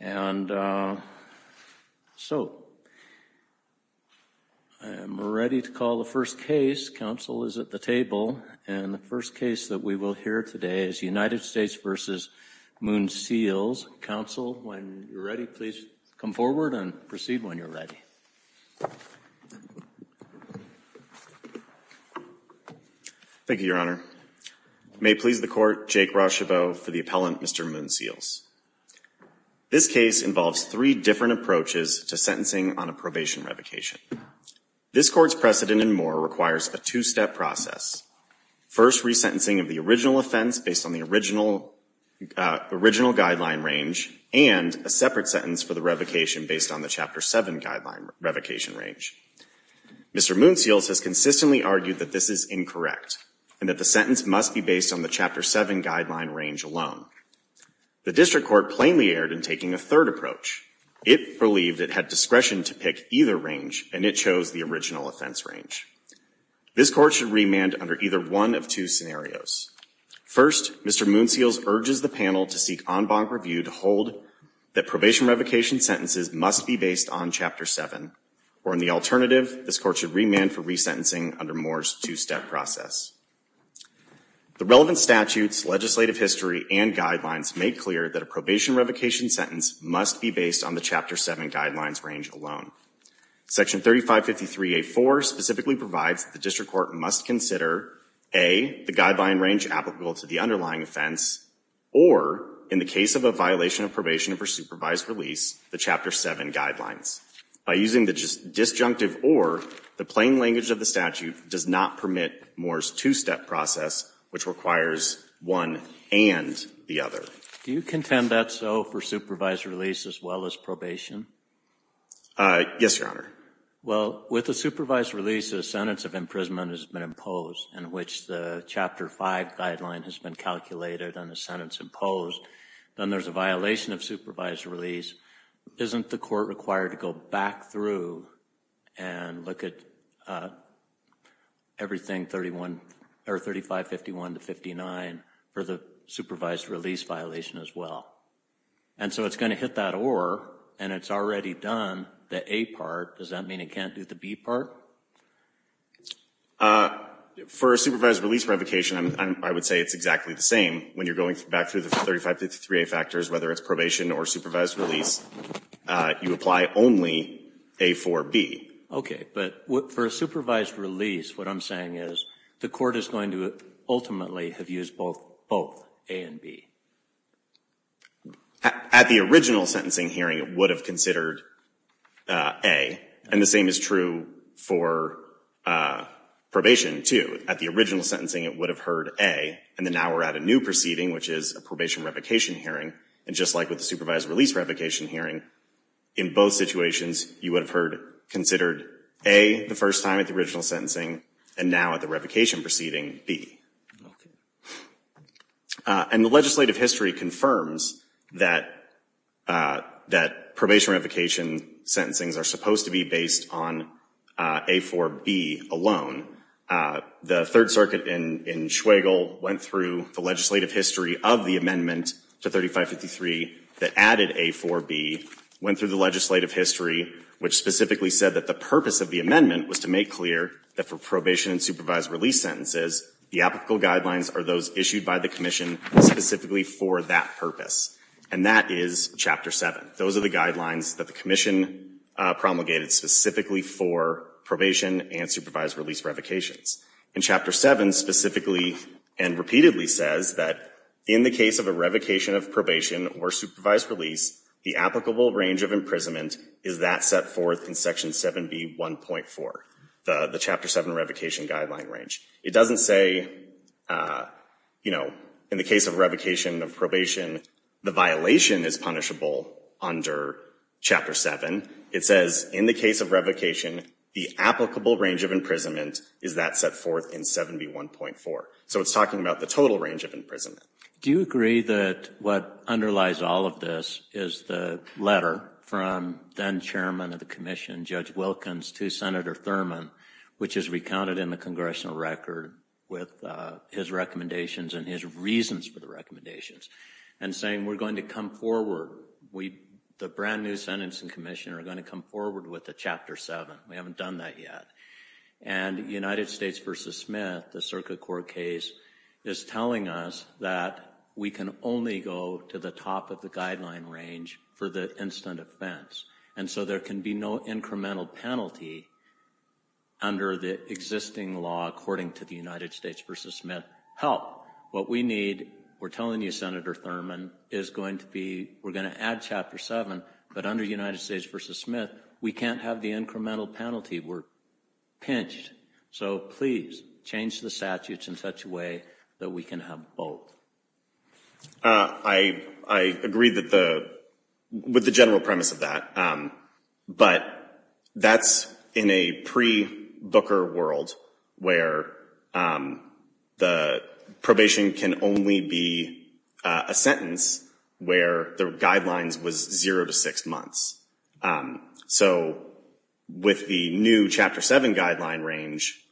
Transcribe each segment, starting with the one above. and so I am ready to call the first case. Council is at the table and the first case that we will hear today is United States v. Moon Seals. Council, when you're ready, please come forward and proceed when you're ready. Thank you, Your Honor. May it please the court, Jake Rochebeau for the appellant, Mr. Moon Seals. This case involves three different approaches to sentencing on a probation revocation. This court's precedent and more requires a two-step process. First, resentencing of the original offense based on the original original guideline range and a separate sentence for the revocation based on the Chapter 7 guideline revocation range. Mr. Moon Seals has consistently argued that this is incorrect and that the sentence must be based on the Chapter 7 guideline range alone. The district court plainly erred in taking a third approach. It believed it had discretion to pick either range and it chose the original offense range. This court should remand under either one of two scenarios. First, Mr. Moon Seals urges the panel to seek en banc review to hold that probation revocation sentences must be based on Chapter 7 or in the alternative, this remand for resentencing under Moore's two-step process. The relevant statutes, legislative history, and guidelines make clear that a probation revocation sentence must be based on the Chapter 7 guidelines range alone. Section 3553A4 specifically provides the district court must consider, A, the guideline range applicable to the underlying offense or, in the case of a violation of probation for supervised release, the Chapter 7 guidelines. By using the disjunctive or the plain language of the statute does not permit Moore's two-step process, which requires one and the other. Do you contend that's so for supervised release as well as probation? Yes, Your Honor. Well, with a supervised release, a sentence of imprisonment has been imposed in which the Chapter 5 guideline has been calculated and the sentence imposed. Then there's a violation of supervised release. Isn't the court required to go back through and look at everything 3551 to 59 for the supervised release violation as well? And so it's going to hit that or and it's already done the A part. Does that mean it can't do the B part? For a supervised release revocation, I would say it's exactly the same. When you're going back through the 3553A factors, whether it's probation or supervised release, you apply only A for B. Okay. But for a supervised release, what I'm saying is the court is going to ultimately have used both A and B. At the original sentencing hearing, it would have considered A. And the same is true for probation, too. At the original sentencing, it would have heard A. And then now we're at a new proceeding, which is a probation revocation hearing. And just like with the supervised release revocation hearing, in both situations, you would have heard considered A the first time at the original sentencing and now at the revocation proceeding, B. Okay. And the legislative history confirms that that probation revocation sentencings are supposed to be based on A for B alone. The Third Circuit in Schweigel went through the legislative history of the amendment to 3553 that added A for B, went through the legislative history, which specifically said that the purpose of the amendment was to make clear that for probation and supervised release sentences, the applicable guidelines are those issued by the Commission specifically for that purpose. And that is Chapter 7. Those are the guidelines that the Commission promulgated specifically for probation and supervised release revocations. And Chapter 7 specifically and repeatedly says that in the case of a revocation of probation or supervised release, the applicable range of imprisonment is that set forth in Section 7B.1.4, the Chapter 7 revocation guideline range. It doesn't say, you know, in the case of revocation of probation, the violation is punishable under Chapter 7. It says in the case of revocation, the applicable range of imprisonment is that set forth in 7B.1.4. So it's talking about the total range of imprisonment. Do you agree that what underlies all of this is the letter from then-chairman of the Commission, Judge Wilkins, to Senator Thurmond, which is recounted in the congressional record with his recommendations and his reasons for the recommendations, and saying we're going to come forward. The brand new Sentencing Commission are going to come forward with a Chapter 7. We haven't done that yet. And United States v. Smith, the Circuit Court case, is telling us that we can only go to the top of the guideline range for the instant offense. And so there can be no incremental penalty under the existing law, according to the United States v. Smith help. What we need, we're telling you, Senator Thurmond, is going to be, we're going to add Chapter 7, but under United States v. Smith, no incremental penalty. We're pinched. So please, change the statutes in such a way that we can have both. I agree with the general premise of that. But that's in a pre-Booker world where the probation can only be a sentence where the guidelines was zero to six months. So with the new Chapter 7 guideline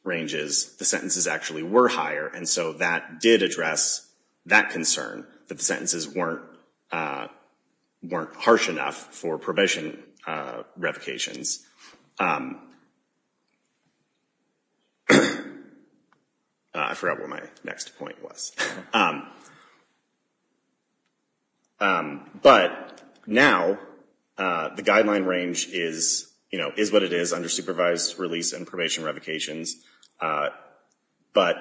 ranges, the sentences actually were higher. And so that did address that concern, that the sentences weren't harsh enough for probation revocations. I forgot what my next point was. But now, the guideline range is, you know, is what it is under supervised release and probation revocations. But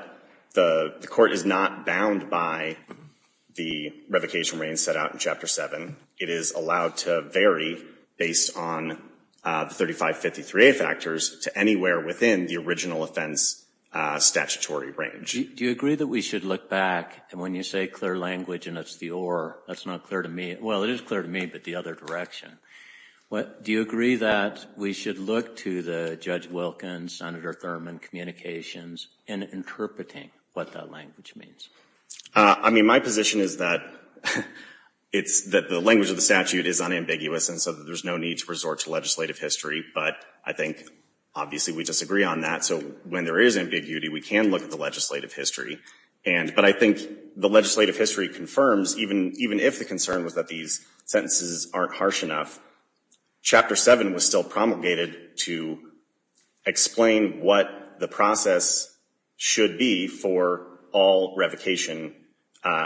the Court is not bound by the revocation range set out in Chapter 7. It is allowed to vary based on 3553A factors to anywhere within the original offense statutory range. Do you agree that we should look back, and when you say clear language and it's the or, that's not clear to me. Well, it is clear to me, but the other direction. Do you agree that we should look to the Judge Wilkins, Senator Thurmond communications in interpreting what that language means? I mean, my position is that it's that the language of the statute is unambiguous and so there's no need to resort to legislative history. But I think obviously we disagree on that. So when there is ambiguity, we can look at the legislative history. But I think the legislative history confirms, even if the concern was that these sentences aren't harsh enough, Chapter 7 was still promulgated to explain what the process should be for all revocation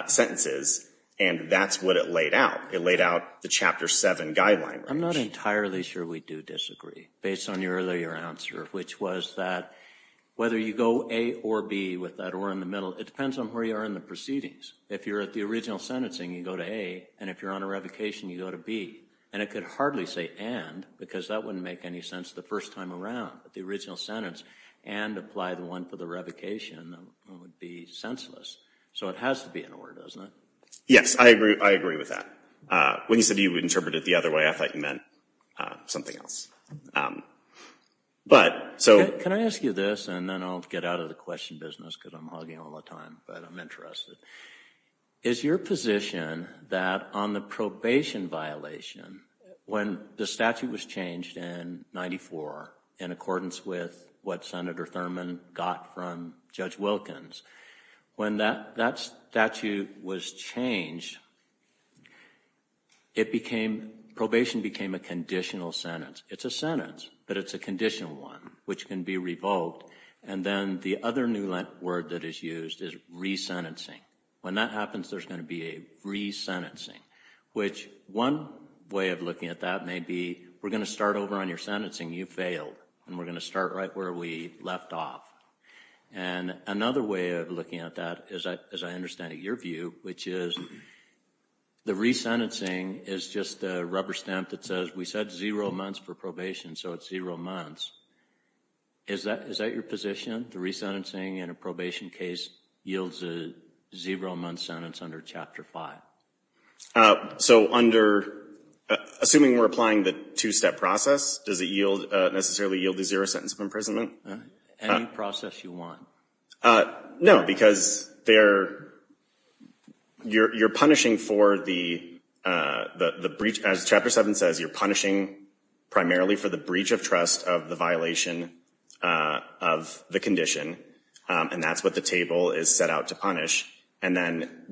sentences. And that's what it laid out. It laid out the Chapter 7 guideline. I'm not entirely sure we do disagree based on your earlier answer, which was that whether you go A or B with that or in the middle, it depends on where you are in the proceedings. If you're at the original sentencing, you go to A, and if you're on a revocation, you go to B. And it could hardly say and, because that wouldn't make any sense the first time around. But the original sentence, and apply the one for the revocation, that would be senseless. So it has to be an or, doesn't it? Yes, I agree. I agree with that. When you said you would interpret it the other way, I thought you meant something else. But, so... Can I ask you this, and then I'll get out of the question business because I'm hogging all the time, but I'm interested. Is your position that on the probation violation, when the statute was changed in 94 in accordance with what Senator Thurman got from Judge Wilkins, when that statute was changed, it became, probation became a conditional sentence. It's a sentence, but it's a conditional one, which can be revoked. And then the other new word that is used is re-sentencing. When that happens, there's going to be a re-sentencing, which one way of looking at that may be, we're going to start over on your sentencing, you failed, and we're going to start right where we left off. And another way of looking at that, as I understand it, your view, which is the re-sentencing is just a rubber stamp that says, we said zero months for probation, so it's zero months. Is that your position, the re-sentencing in a probation case yields a zero-month sentence under Chapter 5? So under, assuming we're applying the two-step process, does it necessarily yield the zero sentence of imprisonment? Any process you want. No, because you're punishing for the breach, as Chapter 7 says, you're punishing primarily for the breach of trust of the violation of the condition. And that's what the table is set out to punish. And then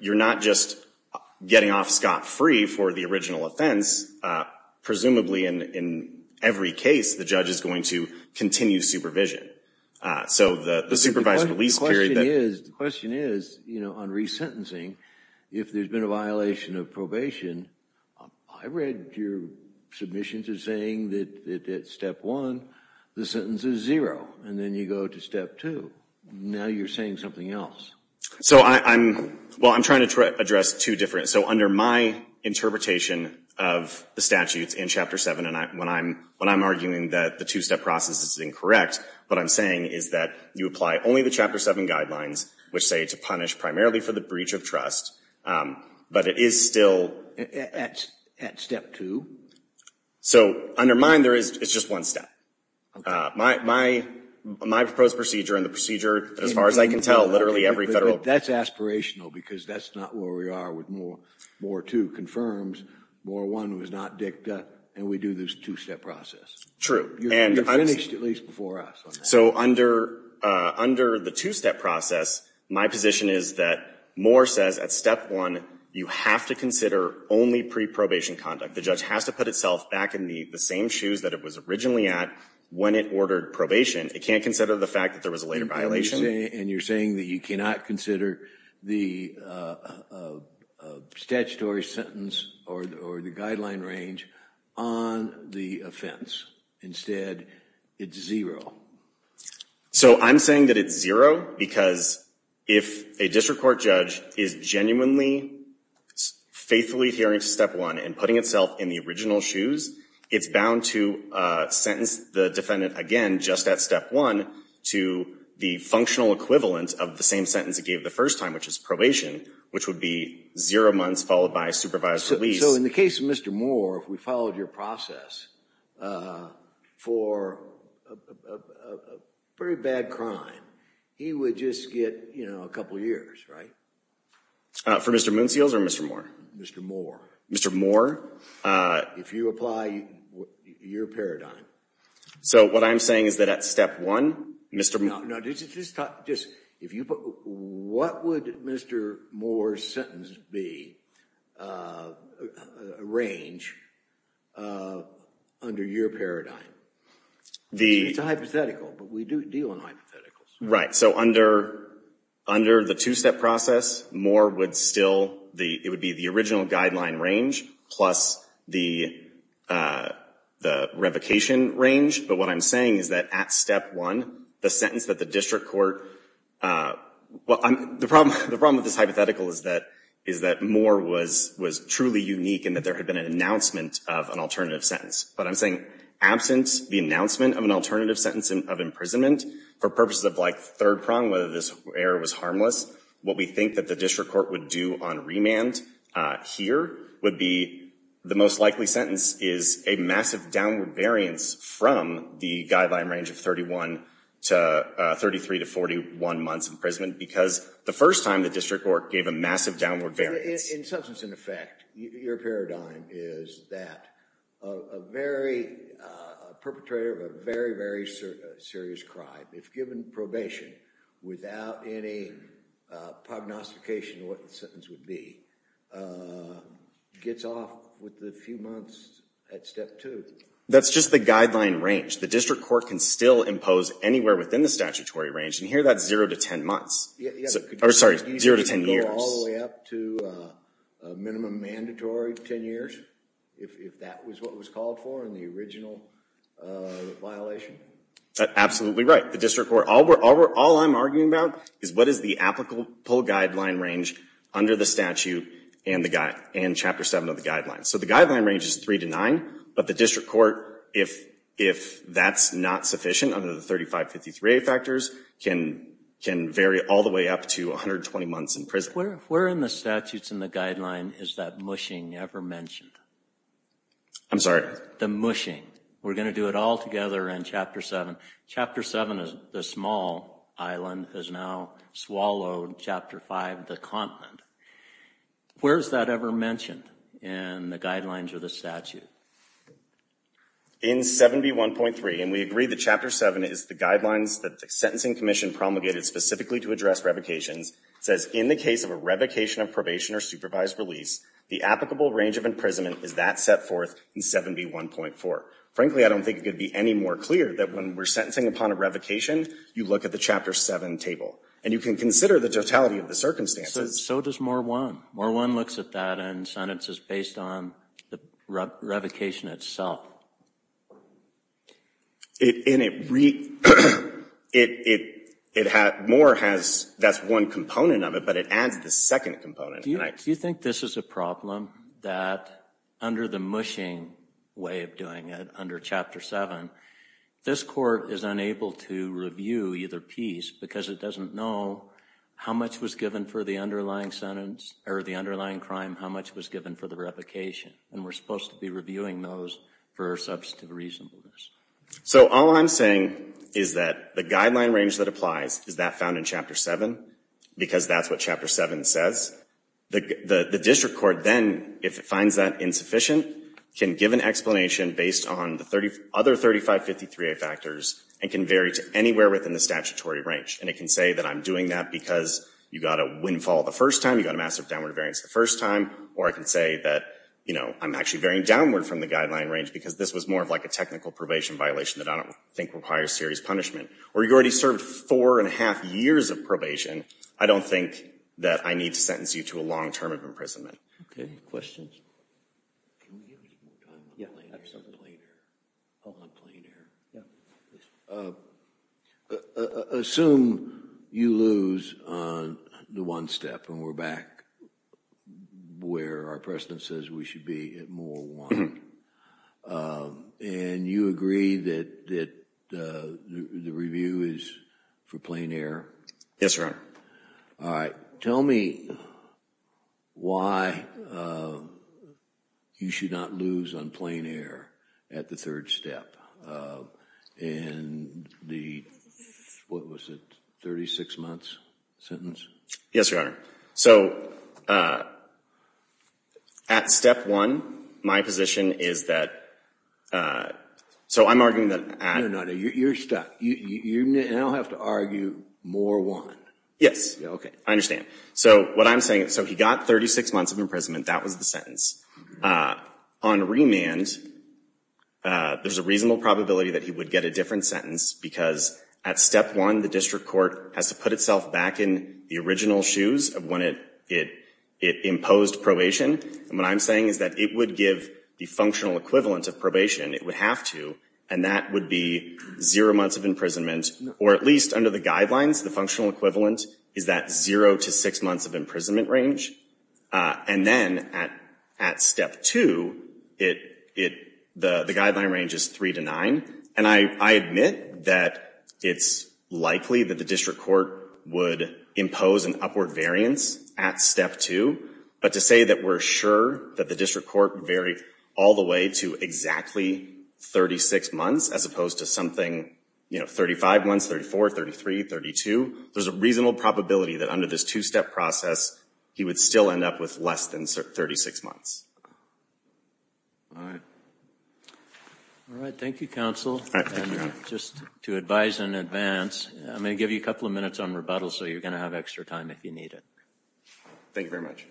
you're not just getting off scot-free for the original offense. Presumably in every case, the judge is going to continue supervision. So the supervised release period... The question is, you know, on re-sentencing, if there's been a violation of probation, I read your submissions are saying that at Step 1, the sentence is zero, and then you go to Step 2. Now you're saying something else. So I'm, well, I'm trying to address two different... So under my interpretation of the statutes in Chapter 7, and when I'm arguing that the two-step process is incorrect, what I'm saying is that you apply only the Chapter 7 guidelines, which say to punish primarily for the breach of trust, but it is still... At Step 2? So under mine, there is, it's just one step. My proposed procedure, and the procedure, as far as I can tell, literally every federal... That's aspirational, because that's not where we are with More 2 confirms, More 1 was not dicta, and we do this two-step process. True. You're finished at least before us. So under the two-step process, my position is that More says at Step 1, you have to consider only pre-probation conduct. The judge has to put itself back in the same shoes that it was originally at when it ordered probation. It can't consider the fact that there was a later violation. And you're saying that you cannot consider the statutory sentence or the guideline range on the offense. Instead, it's zero. So I'm saying that it's zero, because if a district court judge is genuinely, faithfully adhering to Step 1, and putting itself in the original shoes, it's bound to sentence the defendant again, just at Step 1, to the functional equivalent of the same sentence it gave the first time, which is probation, which would be zero months followed by supervised release. So in the case of Mr. More, if we followed your process for a very bad crime, he would just get, you know, a couple years, right? For Mr. Moonseals or Mr. More? Mr. More. Mr. More? If you apply your paradigm. So what I'm saying is that at Step 1, Mr. Moore... Now, just, if you put, what would Mr. Moore's sentence be, range, under your paradigm? It's a hypothetical, but we do deal in hypotheticals. Right, so under the two-step process, Moore would still, it would be the original guideline range plus the revocation range. But what I'm saying is that at Step 1, the sentence that the district court, well, the problem, the problem with this hypothetical is that, is that Moore was, was truly unique in that there had been an announcement of an alternative sentence. But I'm saying, absent the announcement of an alternative sentence of imprisonment, for purposes of like third prong, whether this error was harmless, what we think that the district court would do on remand here would be, the most likely sentence is a massive downward variance from the guideline range of 31 to, 33 to 41 months imprisonment, because the first time the district court gave a massive downward variance. In substance and effect, your paradigm is that a very, perpetrator of a very, very serious crime, if given probation without any prognostication of what the sentence would be, gets off with the few months at Step 2. That's just the guideline range. The district court can still impose anywhere within the statutory range, and here that's zero to ten months. Sorry, zero to ten years. All the way up to a minimum mandatory ten years, if that was what was called for in the original violation. Absolutely right. The district court, all we're, all I'm arguing about is what is the applicable guideline range under the statute and the guide, and Chapter 7 of the district court, if that's not sufficient under the 3553A factors, can vary all the way up to 120 months in prison. Where in the statutes and the guideline is that mushing ever mentioned? I'm sorry? The mushing. We're going to do it all together in Chapter 7. Chapter 7 is the small island has now swallowed Chapter 5, the continent. Where is that ever mentioned in the guidelines of the statute? In 7B1.3, and we agree that Chapter 7 is the guidelines that the Sentencing Commission promulgated specifically to address revocations, says in the case of a revocation of probation or supervised release, the applicable range of imprisonment is that set forth in 7B1.4. Frankly, I don't think it could be any more clear that when we're sentencing upon a revocation, you look at the Chapter 7 table, and you can consider the totality of the circumstances. So does Moor 1. Moor 1 looks at that and sentences based on the revocation itself. And it, it, it has, Moor has, that's one component of it, but it adds the second component. Do you think this is a problem that under the mushing way of doing it under Chapter 7, this court is unable to review either piece because it doesn't know how much was given for the underlying sentence, or the underlying crime, how much was given for the revocation. And we're supposed to be reviewing those for substantive reasonableness. So all I'm saying is that the guideline range that applies is that found in Chapter 7, because that's what Chapter 7 says. The, the District Court then, if it finds that insufficient, can give an explanation based on the 30, other 3553A factors, and can vary to anywhere within the statutory range. And it can say that I'm doing that because you got a windfall the first time, you got a massive downward variance the first time, or I can say that, you know, I'm actually varying downward from the guideline range because this was more of like a technical probation violation that I don't think requires serious punishment. Or you already served four and a half years of probation, I don't think that I need to sentence you to a Assume you lose on the one step, and we're back where our precedent says we should be at more one. And you agree that the review is for plain air? Yes, Your Honor. All right. Tell me why you should not lose on plain air at the third step. In the, what was it, 36 months sentence? Yes, Your Honor. So, at step one, my position is that, so I'm arguing that... No, no, no. You're stuck. You now have to argue more one. Yes, I understand. So what I'm saying, so he got 36 months of imprisonment, that was the sentence. On remand, there's a reasonable probability that he would get a different sentence because at step one, the district court has to put itself back in the original shoes of when it imposed probation. And what I'm saying is that it would give the functional equivalent of probation, it would have to, and that would be zero months of imprisonment, or at least under the guidelines, the functional equivalent is that zero to six months of imprisonment range. And then at step two, the guideline range is three to nine. And I admit that it's likely that the district court would impose an upward variance at step two, but to say that we're sure that the district court varied all the way to exactly 36 months as opposed to something, you know, 35 months, 34, 33, 32, there's a reasonable probability that under this two-step process, he would still end up with less than 36 months. All right, thank you counsel. Just to advise in advance, I'm gonna give you a couple of minutes on rebuttal so you're gonna have extra time if you need it. Thank you very much.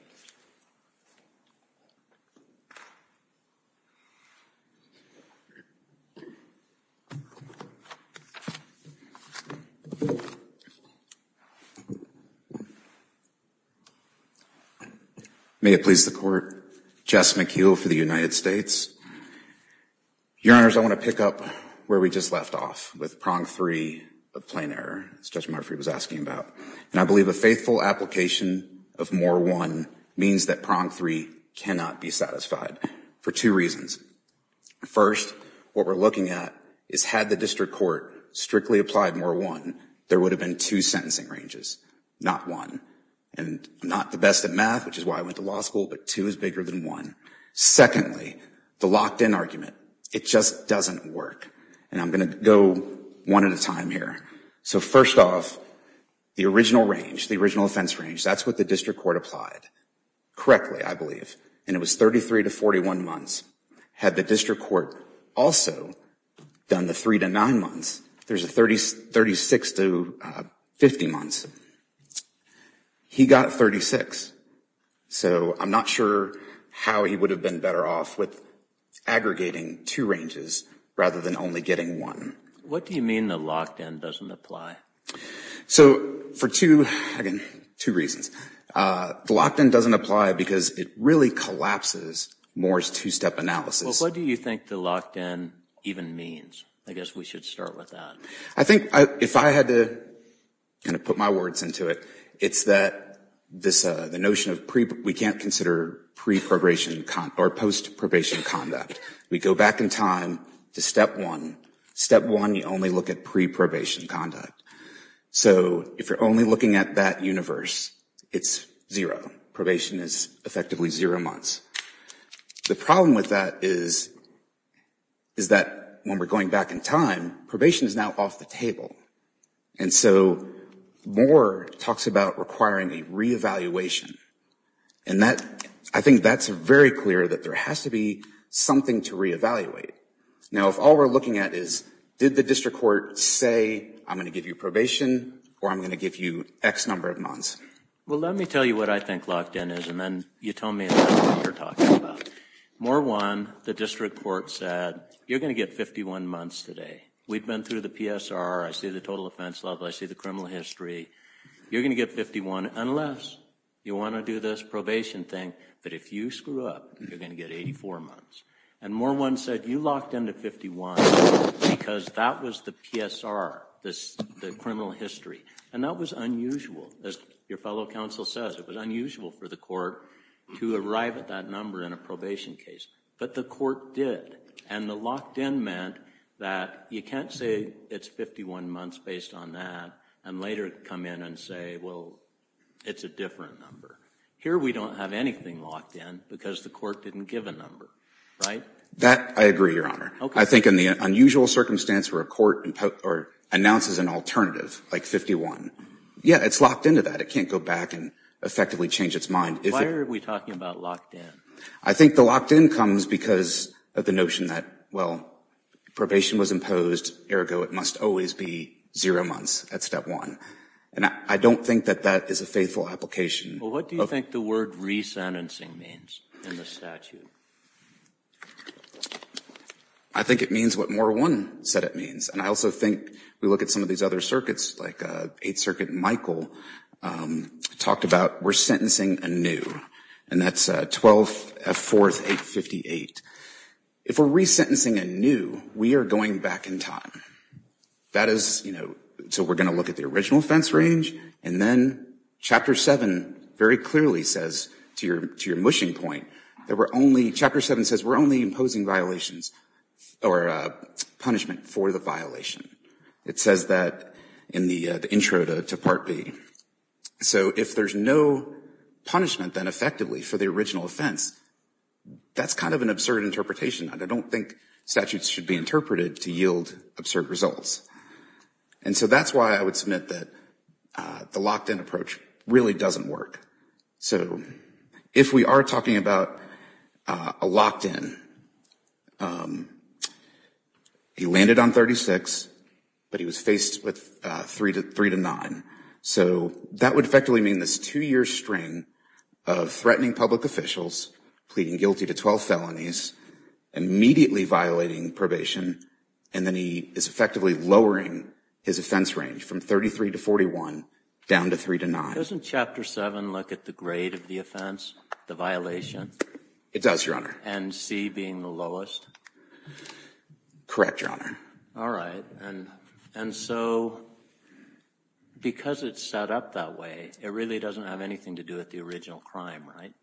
May it please the court, Jess McHugh for the United States. Your Honors, I want to pick up where we just left off with prong three of plain error, as Judge Murphy was asking about. And I believe a faithful application of more one means that prong three cannot be satisfied for two reasons. First, what we're looking at is had the district court strictly applied more one, there would have been two sentencing ranges, not one. And I'm not the best at math, which is why I went to law school, but two is bigger than one. Secondly, the locked-in argument, it just doesn't work. And I'm gonna go one at a time here. So first off, the original range, the original offense range, that's what the district court applied. Correctly, I believe. And it was 33 to 41 months. Had the district court also done the three to nine months, there's a 36 to 50 months. He got 36. So I'm not sure how he would have been better off with aggregating two ranges rather than only getting one. What do you mean the locked-in doesn't apply? So for two, again, two reasons. The locked-in doesn't apply because it really collapses Moore's two-step analysis. What do you think the locked-in even means? I guess we should start with that. I think if I had to kind of put my words into it, it's that this notion of we can't consider pre-probation or post-probation conduct. We go back in time to step one. Step one, you only look at pre-probation conduct. So if you're only looking at that universe, it's zero. Probation is effectively zero months. The problem with that is, is that when we're going back in time, probation is now off the table. And so Moore talks about requiring a re-evaluation. And that, I think that's very clear that there has to be something to re-evaluate. Now if all we're looking at is, did the district court say, I'm gonna give you probation or I'm gonna give you X number of months? Well, let me tell you what I think locked-in is, and then you tell me what you're talking about. Moore won. The district court said, you're gonna get 51 months today. We've been through the PSR. I see the total offense level. I see the criminal history. You're gonna get 51 unless you want to do this probation thing. But if you screw up, you're gonna get 84 months. And Moore won said, you locked into 51 because that was the PSR, the criminal history. And that was unusual. As your fellow counsel says, it was unusual for the court to arrive at that number in a probation case. But the court did. And the locked-in meant that you can't say it's 51 months based on that and later come in and say, well, it's a different number. Here we don't have anything locked-in because the court didn't give a number, right? That I agree, Your Honor. I think in the unusual circumstance where a court announces an alternative, like 51, yeah, it's locked into that. It can't go back and effectively change its mind. Why are we talking about locked-in? I think the locked-in comes because of the notion that, well, probation was imposed, ergo it must always be zero months at step one. And I don't think that that is a faithful application. Well, what do you think the word re-sentencing means in the statute? I think it means what more one said it means. And I also think we look at some of these other circuits, like Eighth Circuit Michael talked about, we're sentencing anew. And that's 12th F. 4th 858. If we're re-sentencing anew, we are going back in time. That is, you know, so we're going to look at the original offense range, and then Chapter 7 very clearly says to your to your mushing point that we're only, Chapter 7 says we're only imposing violations or punishment for the violation. It says that in the intro to Part B. So if there's no punishment then effectively for the original offense, that's kind of an absurd interpretation. I don't think statutes should be interpreted to yield absurd results. And so that's why I would submit that the locked-in approach really doesn't work. So if we are talking about a locked-in, he landed on 36, but he was faced with three to three to nine. So that would effectively mean this two-year string of threatening public officials, pleading guilty to 12 felonies, immediately violating probation, and then he is effectively lowering his offense range from 33 to 41 down to three to nine. Doesn't Chapter 7 look at the grade of the offense, the violation? It does, Your Honor. And C being the lowest? Correct, Your Honor. All right, and and so because it's set up that way, it really doesn't have anything to do with the original crime, right?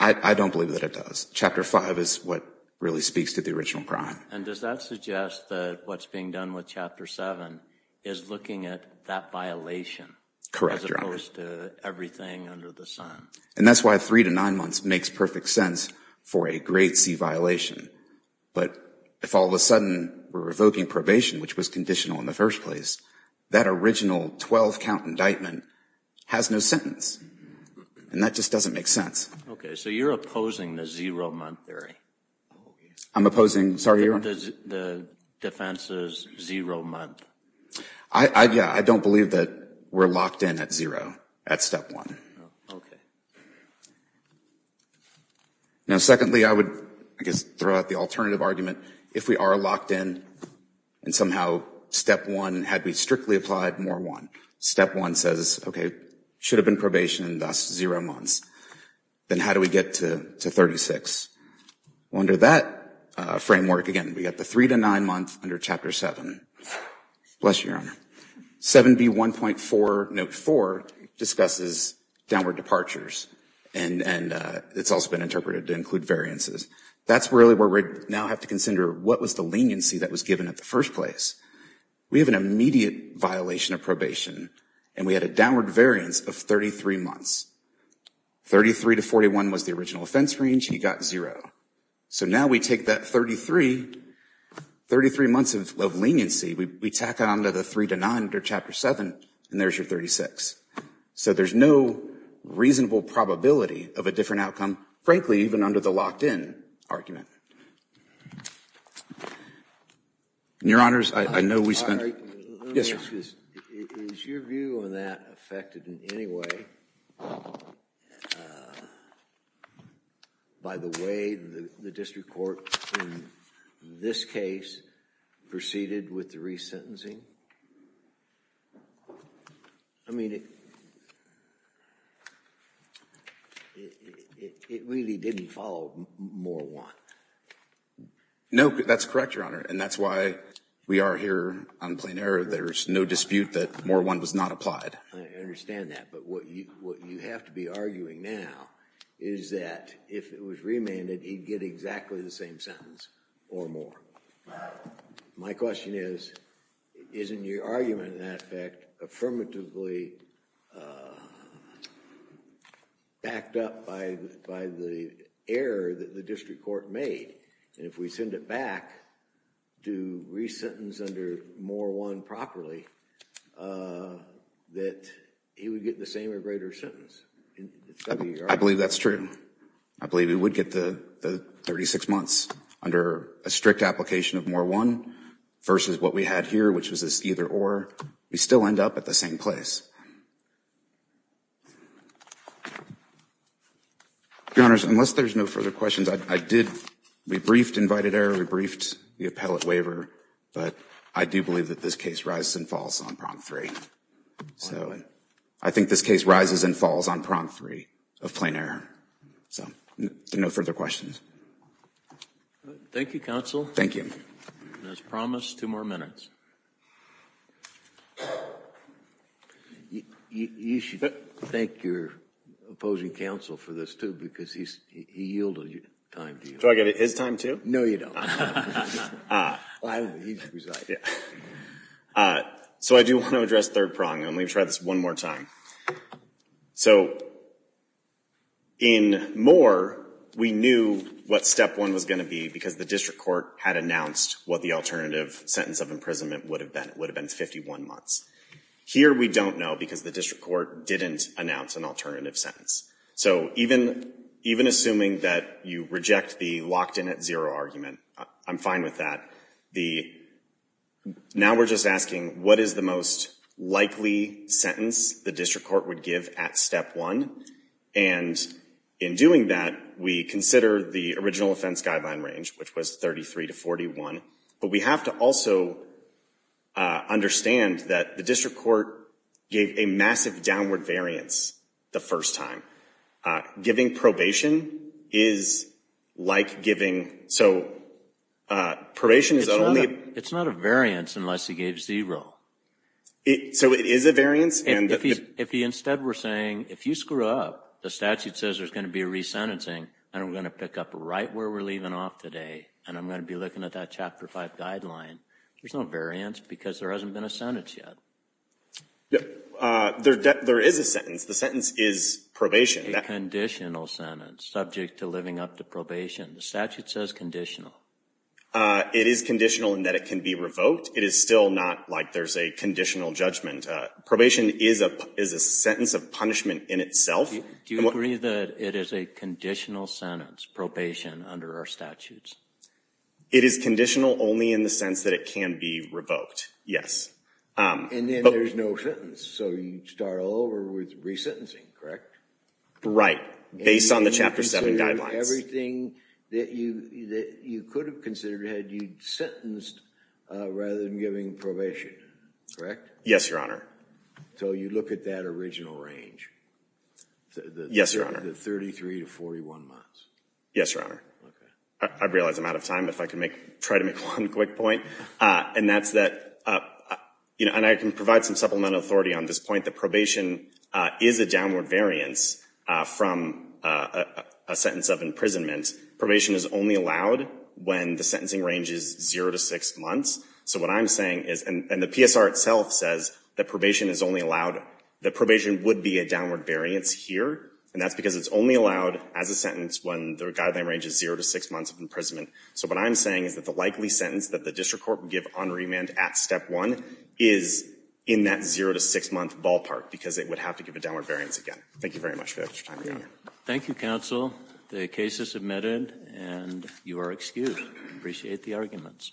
I don't believe that it does. Chapter 5 is what really speaks to the original crime. And does that suggest that what's being done with Chapter 7 is looking at that violation? Correct, Your Honor. As opposed to everything under the sun? And that's why three to nine months makes perfect sense for a grade C violation. But if all of a sudden we're revoking probation, which was conditional in the first place, that original 12-count indictment has no sentence. And that just doesn't make sense. Okay, so you're opposing the zero-month theory? I'm opposing, sorry, Your Honor? The defense is zero-month. I, yeah, I don't believe that we're locked in at zero at step one. Okay. Now secondly, I would, I guess, throw out the alternative argument. If we are locked in and somehow step one, had we strictly applied more to step one. Step one says, okay, should have been probation, thus zero months. Then how do we get to 36? Under that framework, again, we got the three to nine month under Chapter 7. Bless you, Your Honor. 7B1.4, note 4, discusses downward departures. And, and it's also been interpreted to include variances. That's really where we now have to consider what was the leniency that was given at first place. We have an immediate violation of probation, and we had a downward variance of 33 months. 33 to 41 was the original offense range. He got zero. So now we take that 33, 33 months of leniency, we tack on to the three to nine under Chapter 7, and there's your 36. So there's no reasonable probability of a different outcome, frankly, even under the locked-in argument. Your Honors, I know we spent. Yes, sir. Is your view on that affected in any way by the way the District Court, in this case, proceeded with the resentencing? I mean, it really didn't follow Moore 1. No, that's correct, Your Honor, and that's why we are here on plain error. There's no dispute that Moore 1 was not applied. I understand that, but what you have to be arguing now is that if it was remanded, he'd get exactly the same sentence or more. My question is, isn't your argument in that effect affirmatively backed up by the error that the District Court made, and if we send it back to re-sentence under Moore 1 properly, that he would get the same or greater sentence? I believe that's true. I believe it would get the 36 months under a strict application of Moore 1 versus what we had here, which was this either-or. We still end up at the same place. Your Honors, unless there's no further questions, I did, we briefed invited error, we briefed the appellate waiver, but I do believe that this case rises and falls on Prompt 3. So I think this case rises and falls on Prompt 3 of plain error. So no further questions. Thank you, counsel. Thank you. As promised, two more minutes. You should thank your opposing counsel for this too, because he yielded time to you. Do I get his time too? No, you don't. So I do want to address third prong, and let me try this one more time. So in Moore, we knew what step one was going to be, because the District Court had announced what the alternative sentence of imprisonment would have been. It would have been 51 months. Here we don't know, because the District Court didn't announce an alternative sentence. So even, even assuming that you reject the locked in at zero argument, I'm fine with that. Now we're just asking, what is the most likely sentence the District Court would give at step one? And in doing that, we consider the original offense guideline range, which was 33 to 41. But we have to also understand that the District Court gave a massive downward variance the first time. Giving probation is like giving, so probation is only. It's not a variance unless he gave zero. So it is a variance. If he instead were saying, if you screw up, the statute says there's going to be a re-sentencing, and we're going to pick up right where we're leaving off today, and I'm going to be looking at that Chapter 5 guideline. There's no variance, because there hasn't been a sentence yet. There is a sentence. The sentence is probation. A conditional sentence subject to living up to probation. The statute says conditional. It is conditional in that it can be revoked. It is still not like there's a conditional judgment. Probation is a, is a sentence of punishment in itself. Do you agree that it is a conditional sentence, probation, under our statutes? It is conditional only in the sense that it can be revoked, yes. And then there's no sentence, so you start all over with re-sentencing, correct? Right, based on the Chapter 7 guidelines. Everything that you, that you could have considered had you sentenced rather than giving probation, correct? Yes, Your Honor. So you look at that original range? Yes, Your Honor. The 33 to 41 months? Yes, Your Honor. I realize I'm out of time. If I can make, try to make one quick point, and that's that, you know, and I can provide some supplemental authority on this point, that probation is a downward variance from a sentence of imprisonment. Probation is only allowed when the sentencing range is zero to six months. So what I'm saying is, and the PSR itself says that probation is only allowed, that probation would be a downward variance here, and that's because it's only allowed as a sentence when the guideline range is zero to six months of imprisonment. So what I'm saying is that the likely sentence that the district court would give on remand at step one is in that zero to six month ballpark, because it would have to give a downward variance again. Thank you very much for your time. Thank you, counsel. The case is submitted, and you are excused. I appreciate the arguments.